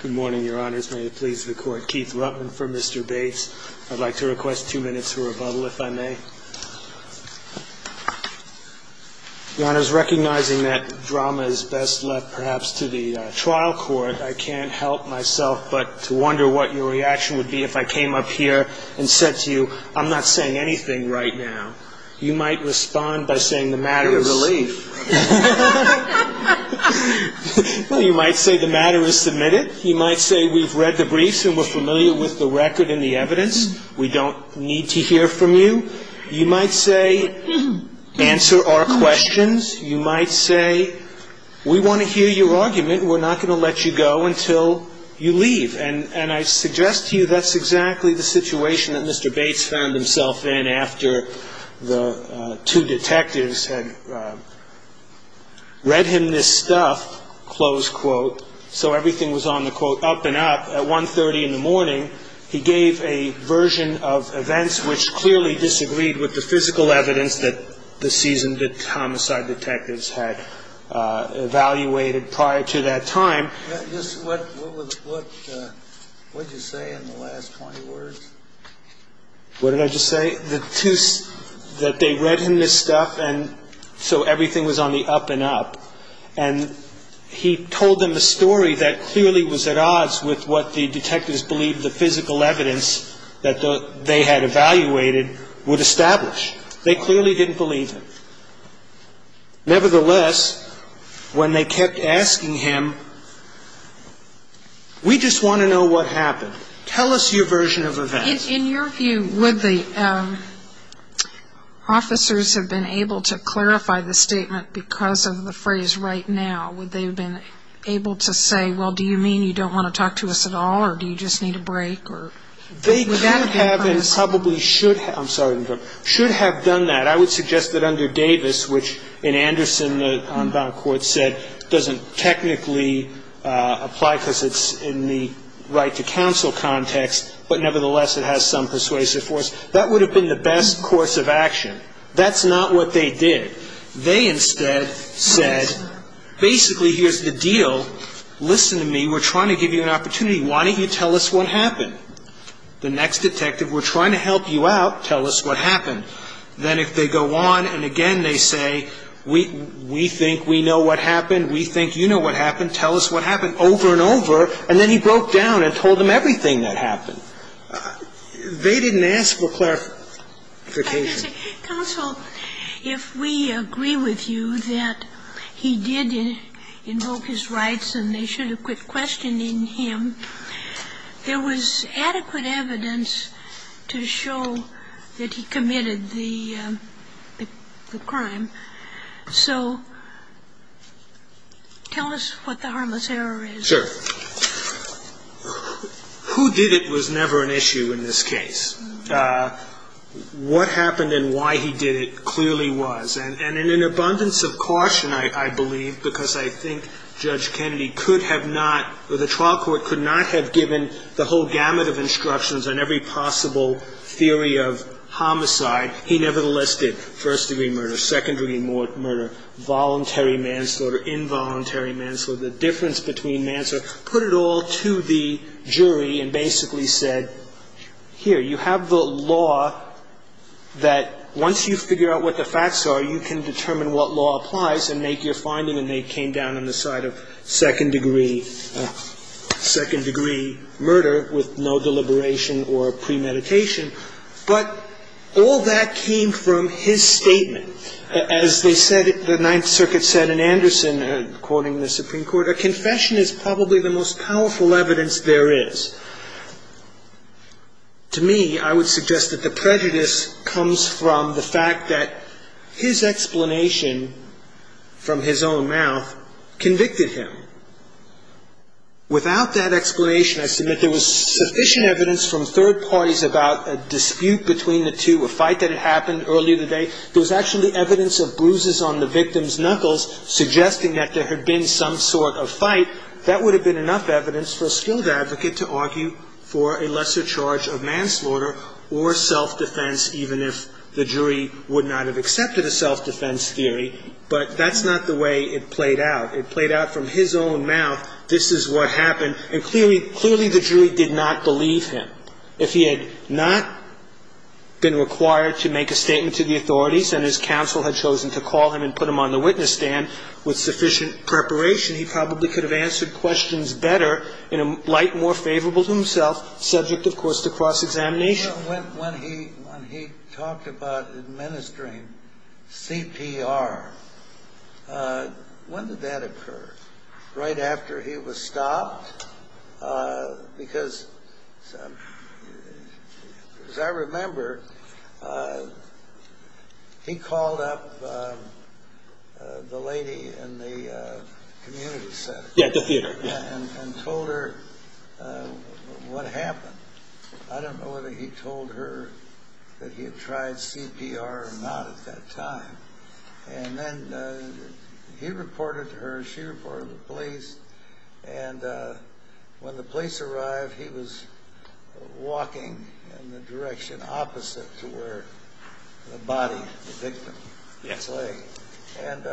Good morning, your honors. May it please the court, Keith Ruttman for Mr. Bates. I'd like to request two minutes for rebuttal, if I may. Your honors, recognizing that drama is best left perhaps to the trial court, I can't help myself but to wonder what your reaction would be if I came up here and said to you, I'm not saying anything right now. You might respond by saying the matter is... You're a relief. Well, you might say the matter is submitted. You might say we've read the briefs and we're familiar with the record and the evidence. We don't need to hear from you. You might say answer our questions. You might say we want to hear your argument and we're not going to let you go until you leave. And I suggest to you that's exactly the situation that Mr. Bates found himself in after the two detectives had read him this stuff, close quote, so everything was on the quote up and up. At 1.30 in the morning, he gave a version of events which clearly disagreed with the physical evidence that the seasoned homicide detectives had evaluated prior to that time. What did you say in the last 20 words? What did I just say? That they read him this stuff and so everything was on the up and up. And he told them a story that clearly was at odds with what the detectives believed the physical evidence that they had evaluated would establish. They clearly didn't believe him. Nevertheless, when they kept asking him, we just want to know what happened. Tell us your version of events. In your view, would the officers have been able to clarify the statement because of the phrase right now? Would they have been able to say, well, do you mean you don't want to talk to us at all or do you just need a break? They could have and probably should have. I'm sorry. Should have done that. I would suggest that under Davis, which in Anderson, the on-bound court, they said it doesn't technically apply because it's in the right to counsel context, but nevertheless it has some persuasive force. That would have been the best course of action. That's not what they did. They instead said basically here's the deal. Listen to me. We're trying to give you an opportunity. Why don't you tell us what happened? The next detective, we're trying to help you out. Tell us what happened. And then if they go on and again they say, we think we know what happened. We think you know what happened. Tell us what happened. Over and over. And then he broke down and told them everything that happened. They didn't ask for clarification. Counsel, if we agree with you that he did invoke his rights and they should have a fair and adequate question in him, there was adequate evidence to show that he committed the crime. So tell us what the harmless error is. Sure. Who did it was never an issue in this case. What happened and why he did it clearly was. And in an abundance of caution, I believe, because I think Judge Kennedy could have not, the trial court could not have given the whole gamut of instructions on every possible theory of homicide. He nevertheless did first-degree murder, secondary murder, voluntary manslaughter, involuntary manslaughter, the difference between manslaughter, put it all to the jury and basically said, here, you have the law that once you figure out what the facts are, you can determine what law applies and make your finding, and they came down on the side of second-degree murder with no deliberation or premeditation. But all that came from his statement. As they said, the Ninth Circuit said in Anderson, quoting the Supreme Court, a confession is probably the most powerful evidence there is. To me, I would suggest that the prejudice comes from the fact that his explanation from his own mouth convicted him. Without that explanation, I submit there was sufficient evidence from third parties about a dispute between the two, a fight that had happened earlier in the day. There was actually evidence of bruises on the victim's knuckles suggesting that there had been some sort of fight. That would have been enough evidence for a skilled advocate to argue for a lesser charge of manslaughter or self-defense, even if the jury would not have accepted a self-defense theory. But that's not the way it played out. It played out from his own mouth, this is what happened, and clearly the jury did not believe him. If he had not been required to make a statement to the authorities and his counsel had chosen to call him and put him on the witness stand with sufficient preparation, he probably could have answered questions better in a light more favorable to himself, subject, of course, to cross-examination. When he talked about administering CPR, when did that occur? Right after he was stopped? Because as I remember, he called up the lady in the community center and told her what happened. I don't know whether he told her that he had tried CPR or not at that time. And then he reported to her, she reported to the police, and when the police arrived he was walking in the direction opposite to where the body, the victim, lay. And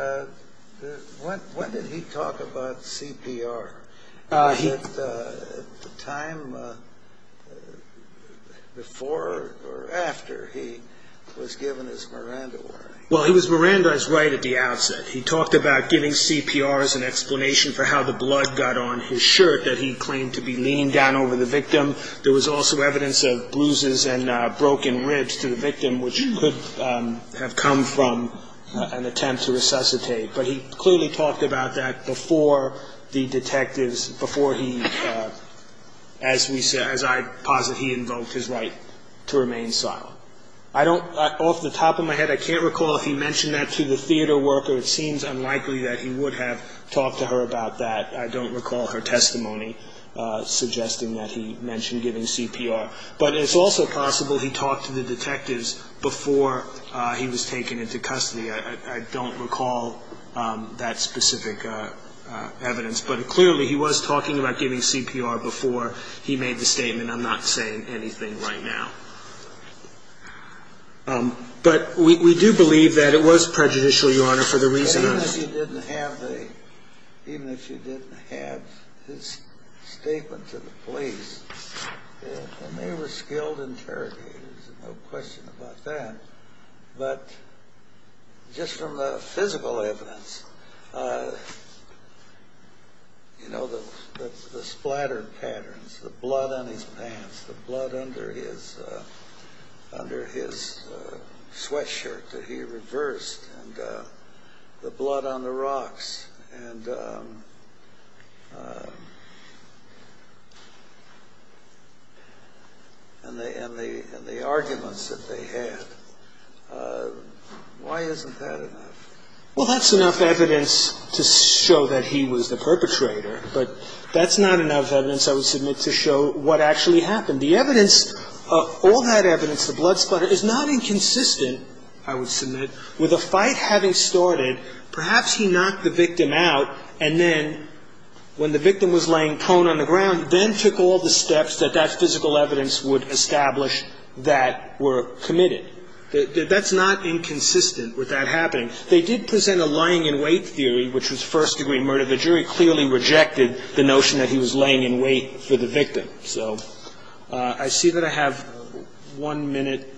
when did he talk about CPR? Was it at the time before or after he was given his Miranda warning? Well, he was Miranda's right at the outset. He talked about giving CPR as an explanation for how the blood got on his shirt that he claimed to be leaning down over the victim. There was also evidence of bruises and broken ribs to the victim, which could have come from an attempt to resuscitate. But he clearly talked about that before the detectives, before he, as I posit, he invoked his right to remain silent. Off the top of my head, I can't recall if he mentioned that to the theater worker. It seems unlikely that he would have talked to her about that. I don't recall her testimony suggesting that he mentioned giving CPR. But it's also possible he talked to the detectives before he was taken into custody. I don't recall that specific evidence. But clearly he was talking about giving CPR before he made the statement. I'm not saying anything right now. But we do believe that it was prejudicial, Your Honor, for the reason that... Even if you didn't have the, even if you didn't have his statement to the police, and they were skilled interrogators, no question about that. But just from the physical evidence, you know, the splattered patterns, the blood on his pants, the blood under his sweatshirt that he reversed, and the blood on the rocks, and the arguments that they had, why isn't that enough? Well, that's enough evidence to show that he was the perpetrator. But that's not enough evidence, I would submit, to show what actually happened. The evidence, all that evidence, the blood splatter, is not inconsistent, I would submit. With a fight having started, perhaps he knocked the victim out, and then when the victim was laying prone on the ground, then took all the steps that that physical evidence would establish that were committed. That's not inconsistent with that happening. They did present a lying in wait theory, which was first-degree murder. The jury clearly rejected the notion that he was laying in wait for the victim. So I see that I have one minute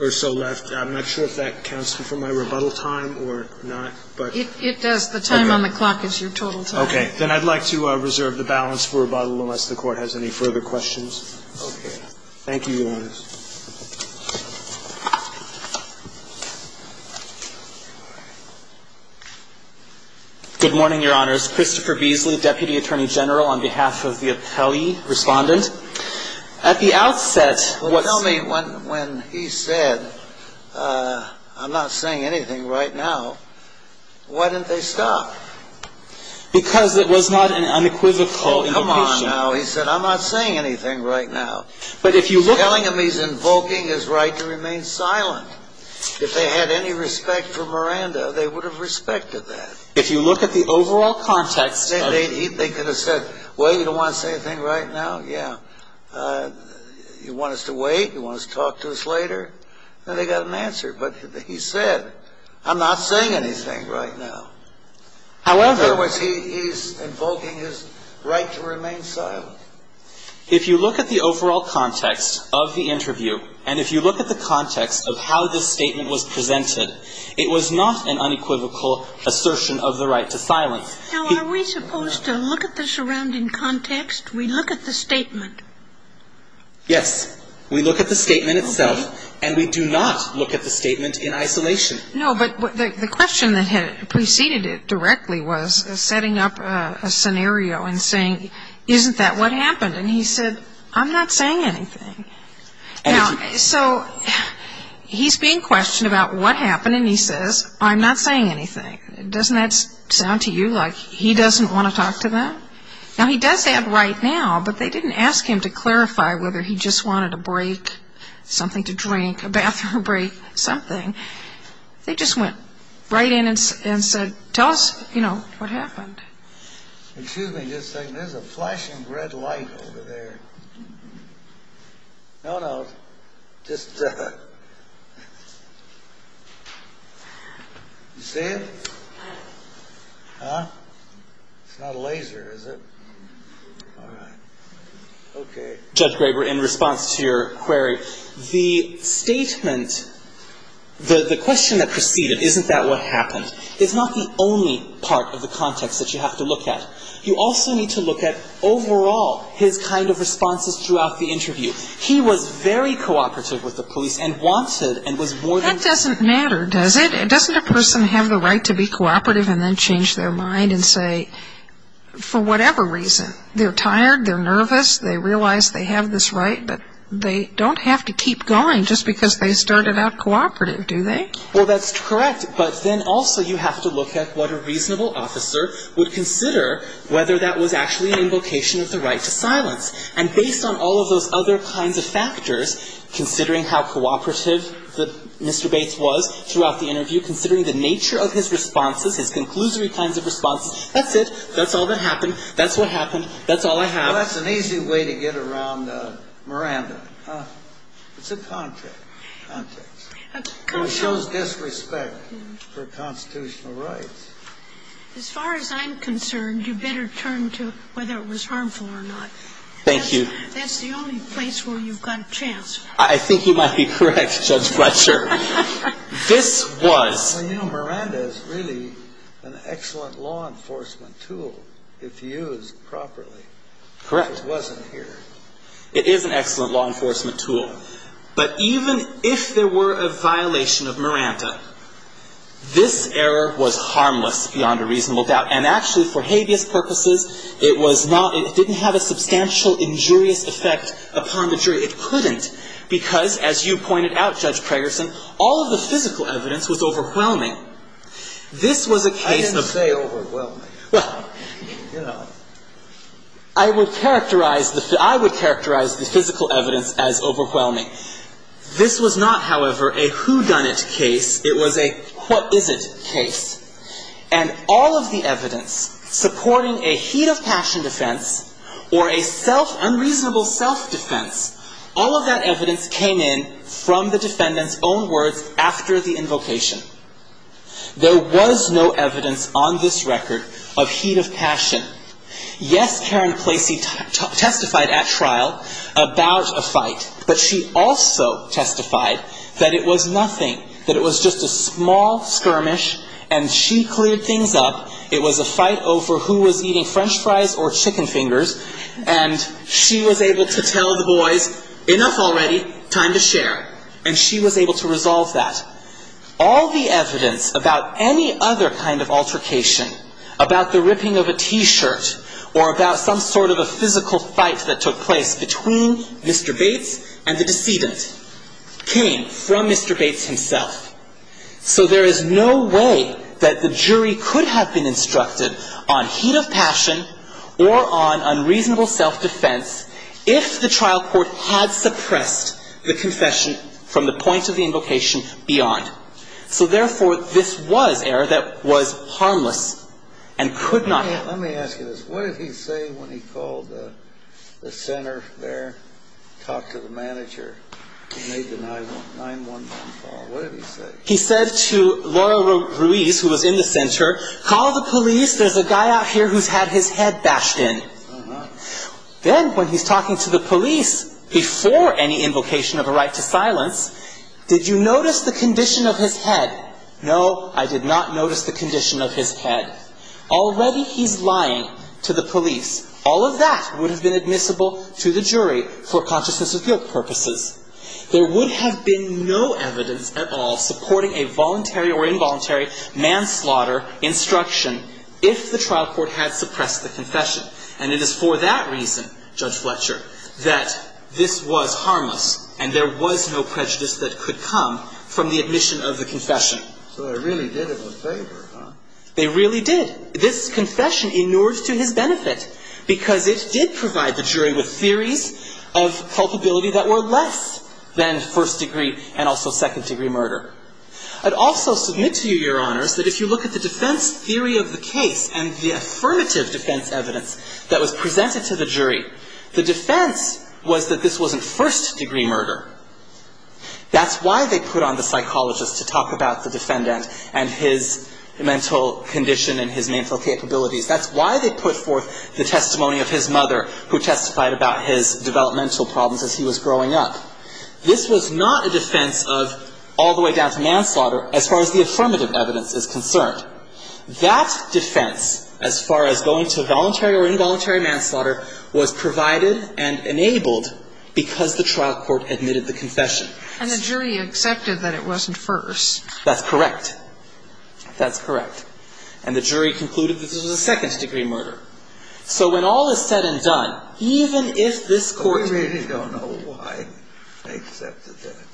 or so left. I'm not sure if that counts for my rebuttal time or not. It does. The time on the clock is your total time. Okay. Then I'd like to reserve the balance for rebuttal unless the Court has any further questions. Okay. Thank you, Your Honors. Good morning, Your Honors. My name is Christopher Beasley, Deputy Attorney General on behalf of the appellee respondent. At the outset, what's ---- Well, tell me, when he said, I'm not saying anything right now, why didn't they stop? Because it was not an unequivocal indication. Oh, come on now. He said, I'm not saying anything right now. But if you look at ---- He's telling him he's invoking his right to remain silent. If they had any respect for Miranda, they would have respected that. If you look at the overall context of ---- They could have said, well, you don't want to say anything right now? Yeah. You want us to wait? You want us to talk to us later? Then they got an answer. But he said, I'm not saying anything right now. However ---- In other words, he's invoking his right to remain silent. If you look at the overall context of the interview, and if you look at the context of how this statement was presented, it was not an unequivocal assertion of the right to silence. Now, are we supposed to look at the surrounding context? We look at the statement. Yes. We look at the statement itself, and we do not look at the statement in isolation. No, but the question that preceded it directly was setting up a scenario and saying, isn't that what happened? And he said, I'm not saying anything. Now, so he's being questioned about what happened, and he says, I'm not saying anything. Doesn't that sound to you like he doesn't want to talk to them? Now, he does say it right now, but they didn't ask him to clarify whether he just wanted a break, something to drink, a bathroom break, something. They just went right in and said, tell us, you know, what happened. Excuse me just a second. There's a flashing red light over there. No, no, just. You see it? Huh? It's not a laser, is it? All right. Okay. Judge Graber, in response to your query, the statement, the question that preceded it, isn't that what happened? It's not the only part of the context that you have to look at. You also need to look at overall his kind of responses throughout the interview. He was very cooperative with the police and wanted and was more than. That doesn't matter, does it? Doesn't a person have the right to be cooperative and then change their mind and say, for whatever reason, they're tired, they're nervous, they realize they have this right, but they don't have to keep going just because they started out cooperative, do they? Well, that's correct. But then also you have to look at what a reasonable officer would consider whether that was actually an invocation of the right to silence. And based on all of those other kinds of factors, considering how cooperative Mr. Bates was throughout the interview, considering the nature of his responses, his conclusory kinds of responses, that's it. That's all that happened. That's what happened. That's all I have. Well, that's an easy way to get around Miranda. It's a context. It shows disrespect for constitutional rights. As far as I'm concerned, you better turn to whether it was harmful or not. Thank you. That's the only place where you've got a chance. I think you might be correct, Judge Fletcher. This was. Well, you know, Miranda is really an excellent law enforcement tool if used properly. Correct. If it wasn't here. It is an excellent law enforcement tool. But even if there were a violation of Miranda, this error was harmless beyond a reasonable doubt. And actually, for habeas purposes, it was not. It didn't have a substantial injurious effect upon the jury. It couldn't because, as you pointed out, Judge Pragerson, all of the physical evidence was overwhelming. This was a case of. I didn't say overwhelming. Well, I would characterize the physical evidence as overwhelming. This was not, however, a whodunit case. It was a what-is-it case. And all of the evidence supporting a heat-of-passion defense or a self-unreasonable self-defense, all of that evidence came in from the defendant's own words after the invocation. There was no evidence on this record of heat-of-passion. Yes, Karen Placey testified at trial about a fight. But she also testified that it was nothing, that it was just a small skirmish, and she cleared things up. It was a fight over who was eating French fries or chicken fingers. And she was able to tell the boys, enough already, time to share. And she was able to resolve that. All the evidence about any other kind of altercation, about the ripping of a T-shirt or about some sort of a physical fight that took place between Mr. Bates and the decedent, came from Mr. Bates himself. So there is no way that the jury could have been instructed on heat-of-passion or on unreasonable self-defense if the trial court had suppressed the confession from the point of the invocation beyond. So, therefore, this was error that was harmless and could not happen. Let me ask you this. What did he say when he called the center there, talked to the manager who made the 9-1-1 call? What did he say? He said to Laurel Ruiz, who was in the center, call the police. There's a guy out here who's had his head bashed in. Then, when he's talking to the police, before any invocation of a right to silence, did you notice the condition of his head? No, I did not notice the condition of his head. Already he's lying to the police. All of that would have been admissible to the jury for consciousness-appeal purposes. There would have been no evidence at all supporting a voluntary or involuntary manslaughter instruction if the trial court had suppressed the confession. And it is for that reason, Judge Fletcher, that this was harmless and there was no prejudice that could come from the admission of the confession. So they really did him a favor, huh? They really did. This confession inured to his benefit because it did provide the jury with theories of culpability that were less than first-degree and also second-degree murder. I'd also submit to you, Your Honors, that if you look at the defense theory of the case and the affirmative defense evidence that was presented to the jury, the defense was that this wasn't first-degree murder. That's why they put on the psychologist to talk about the defendant and his mental condition and his mental capabilities. That's why they put forth the testimony of his mother, who testified about his developmental problems as he was growing up. This was not a defense of all the way down to manslaughter as far as the affirmative evidence is concerned. That defense as far as going to voluntary or involuntary manslaughter was provided and enabled because the trial court admitted the confession. And the jury accepted that it wasn't first. That's correct. That's correct. And the jury concluded that this was a second-degree murder. So when all is said and done, even if this court... We really don't know why they accepted that,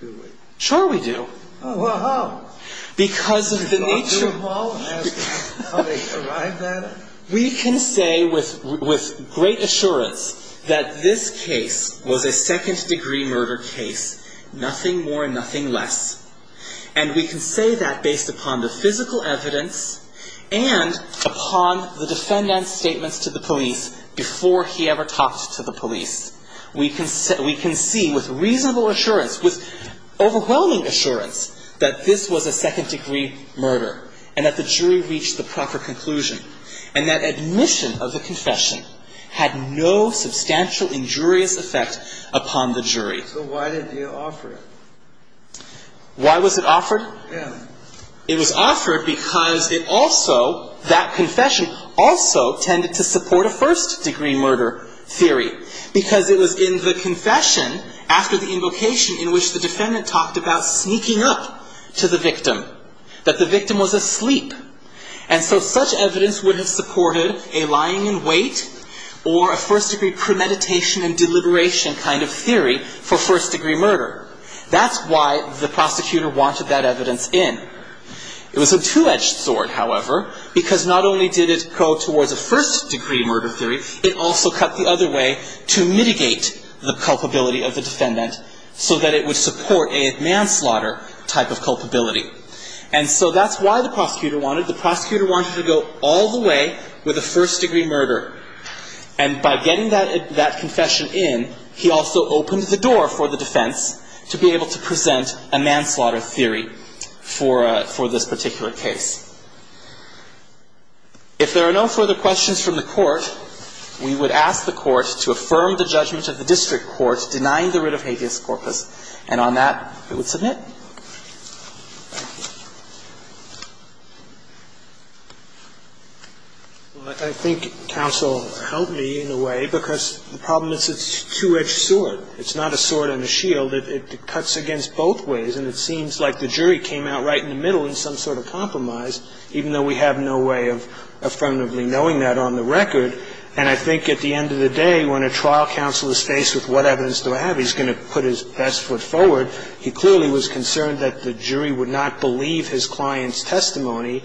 do we? Sure we do. Well, how? Because of the nature of... We don't know how they arrived at it. We can say with great assurance that this case was a second-degree murder case, nothing more and nothing less. And we can say that based upon the physical evidence and upon the defendant's statements to the police before he ever talked to the police. We can see with reasonable assurance, with overwhelming assurance that this was a second-degree murder and that the jury reached the proper conclusion. And that admission of the confession had no substantial injurious effect upon the jury. So why did they offer it? Why was it offered? Yeah. It was offered because it also, that confession, also tended to support a first-degree murder theory. Because it was in the confession after the invocation in which the defendant talked about sneaking up to the victim, that the victim was asleep. And so such evidence would have supported a lying in wait or a first-degree premeditation and deliberation kind of theory for first-degree murder. That's why the prosecutor wanted that evidence in. It was a two-edged sword, however, because not only did it go towards a first-degree murder theory, it also cut the other way to mitigate the culpability of the defendant so that it would support a manslaughter type of culpability. And so that's why the prosecutor wanted. The prosecutor wanted to go all the way with a first-degree murder. And by getting that confession in, he also opened the door for the defense to be able to present a manslaughter theory for this particular case. If there are no further questions from the Court, we would ask the Court to affirm the judgment of the district court denying the writ of habeas corpus. And on that, it would submit. Thank you. Well, I think counsel helped me in a way because the problem is it's a two-edged sword. It's not a sword and a shield. It cuts against both ways. And it seems like the jury came out right in the middle in some sort of compromise, even though we have no way of affirmatively knowing that on the record. And I think at the end of the day, when a trial counsel is faced with what evidence do I have, he's going to put his best foot forward. He clearly was concerned that the jury would not believe his client's testimony.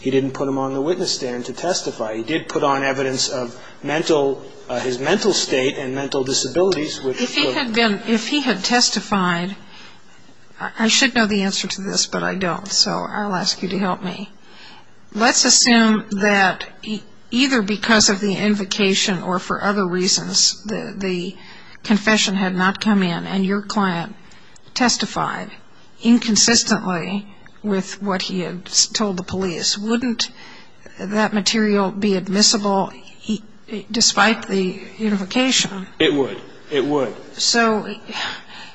He didn't put him on the witness stand to testify. He did put on evidence of mental – his mental state and mental disabilities, which were – If he had been – if he had testified – I should know the answer to this, but I don't, so I'll ask you to help me. Let's assume that either because of the invocation or for other reasons the confession had not come in and your client testified inconsistently with what he had told the police. Wouldn't that material be admissible despite the invocation? It would. It would. So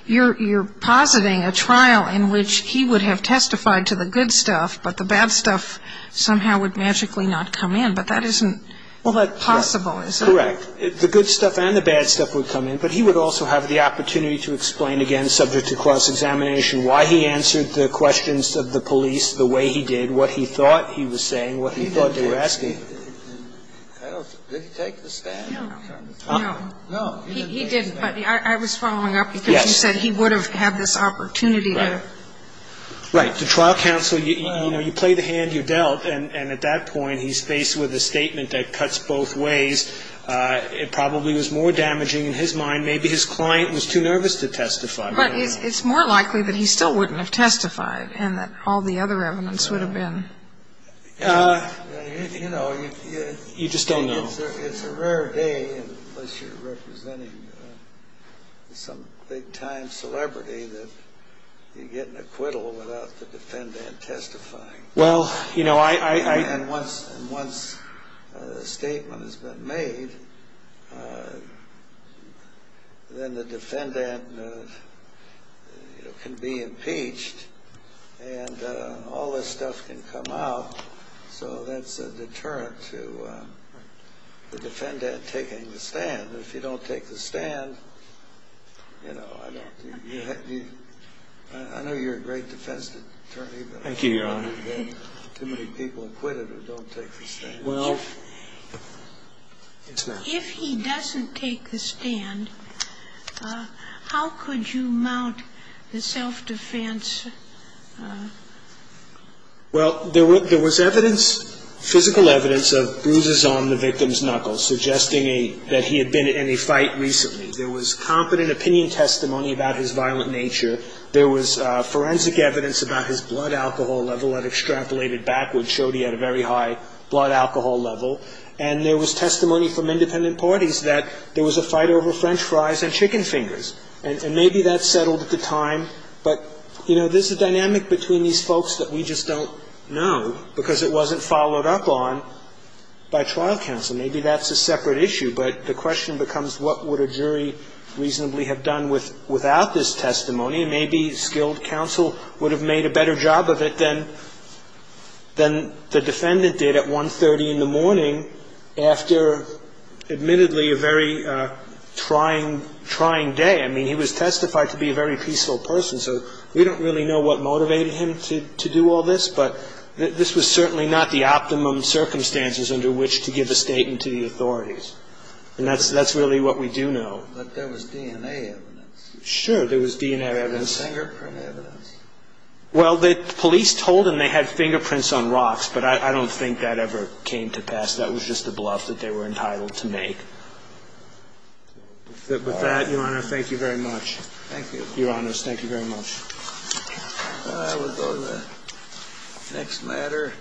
you're positing a trial in which he would have testified to the good stuff, but the bad stuff somehow would magically not come in. But that isn't possible, is it? Correct. The good stuff and the bad stuff would come in, but he would also have the opportunity to explain again subject to cross-examination why he answered the questions of the police the way he did, what he thought he was saying, what he thought they were asking. Did he take the stand? No. No. He didn't, but I was following up because you said he would have had this opportunity to. Right. The trial counsel, you know, you play the hand you dealt, and at that point he's faced with a statement that cuts both ways. It probably was more damaging in his mind. Maybe his client was too nervous to testify. But it's more likely that he still wouldn't have testified and that all the other evidence would have been. You know, you just don't know. It's a rare day, unless you're representing some big-time celebrity, that you get an acquittal without the defendant testifying. Well, you know, I... And once a statement has been made, then the defendant can be impeached, and all this stuff can come out. So that's a deterrent to the defendant taking the stand. If you don't take the stand, you know, I don't. I know you're a great defense attorney. Thank you, Your Honor. Too many people acquitted who don't take the stand. Well, if he doesn't take the stand, how could you mount the self-defense? Well, there was evidence, physical evidence, of bruises on the victim's knuckles, suggesting that he had been in a fight recently. There was competent opinion testimony about his violent nature. There was forensic evidence about his blood alcohol level had extrapolated backwards, showed he had a very high blood alcohol level. And there was testimony from independent parties that there was a fight over French fries and chicken fingers. And maybe that settled at the time. But, you know, there's a dynamic between these folks that we just don't know, because it wasn't followed up on by trial counsel. Maybe that's a separate issue, but the question becomes what would a jury reasonably have done without this testimony. Maybe skilled counsel would have made a better job of it than the defendant did at 1.30 in the morning after, admittedly, a very trying day. I mean, he was testified to be a very peaceful person, so we don't really know what motivated him to do all this. But this was certainly not the optimum circumstances under which to give a statement to the authorities. And that's really what we do know. But there was DNA evidence. Sure, there was DNA evidence. There was fingerprint evidence. Well, the police told them they had fingerprints on rocks, but I don't think that ever came to pass. That was just a bluff that they were entitled to make. With that, Your Honor, thank you very much. Thank you. Your Honors, thank you very much. We'll go to the next matter.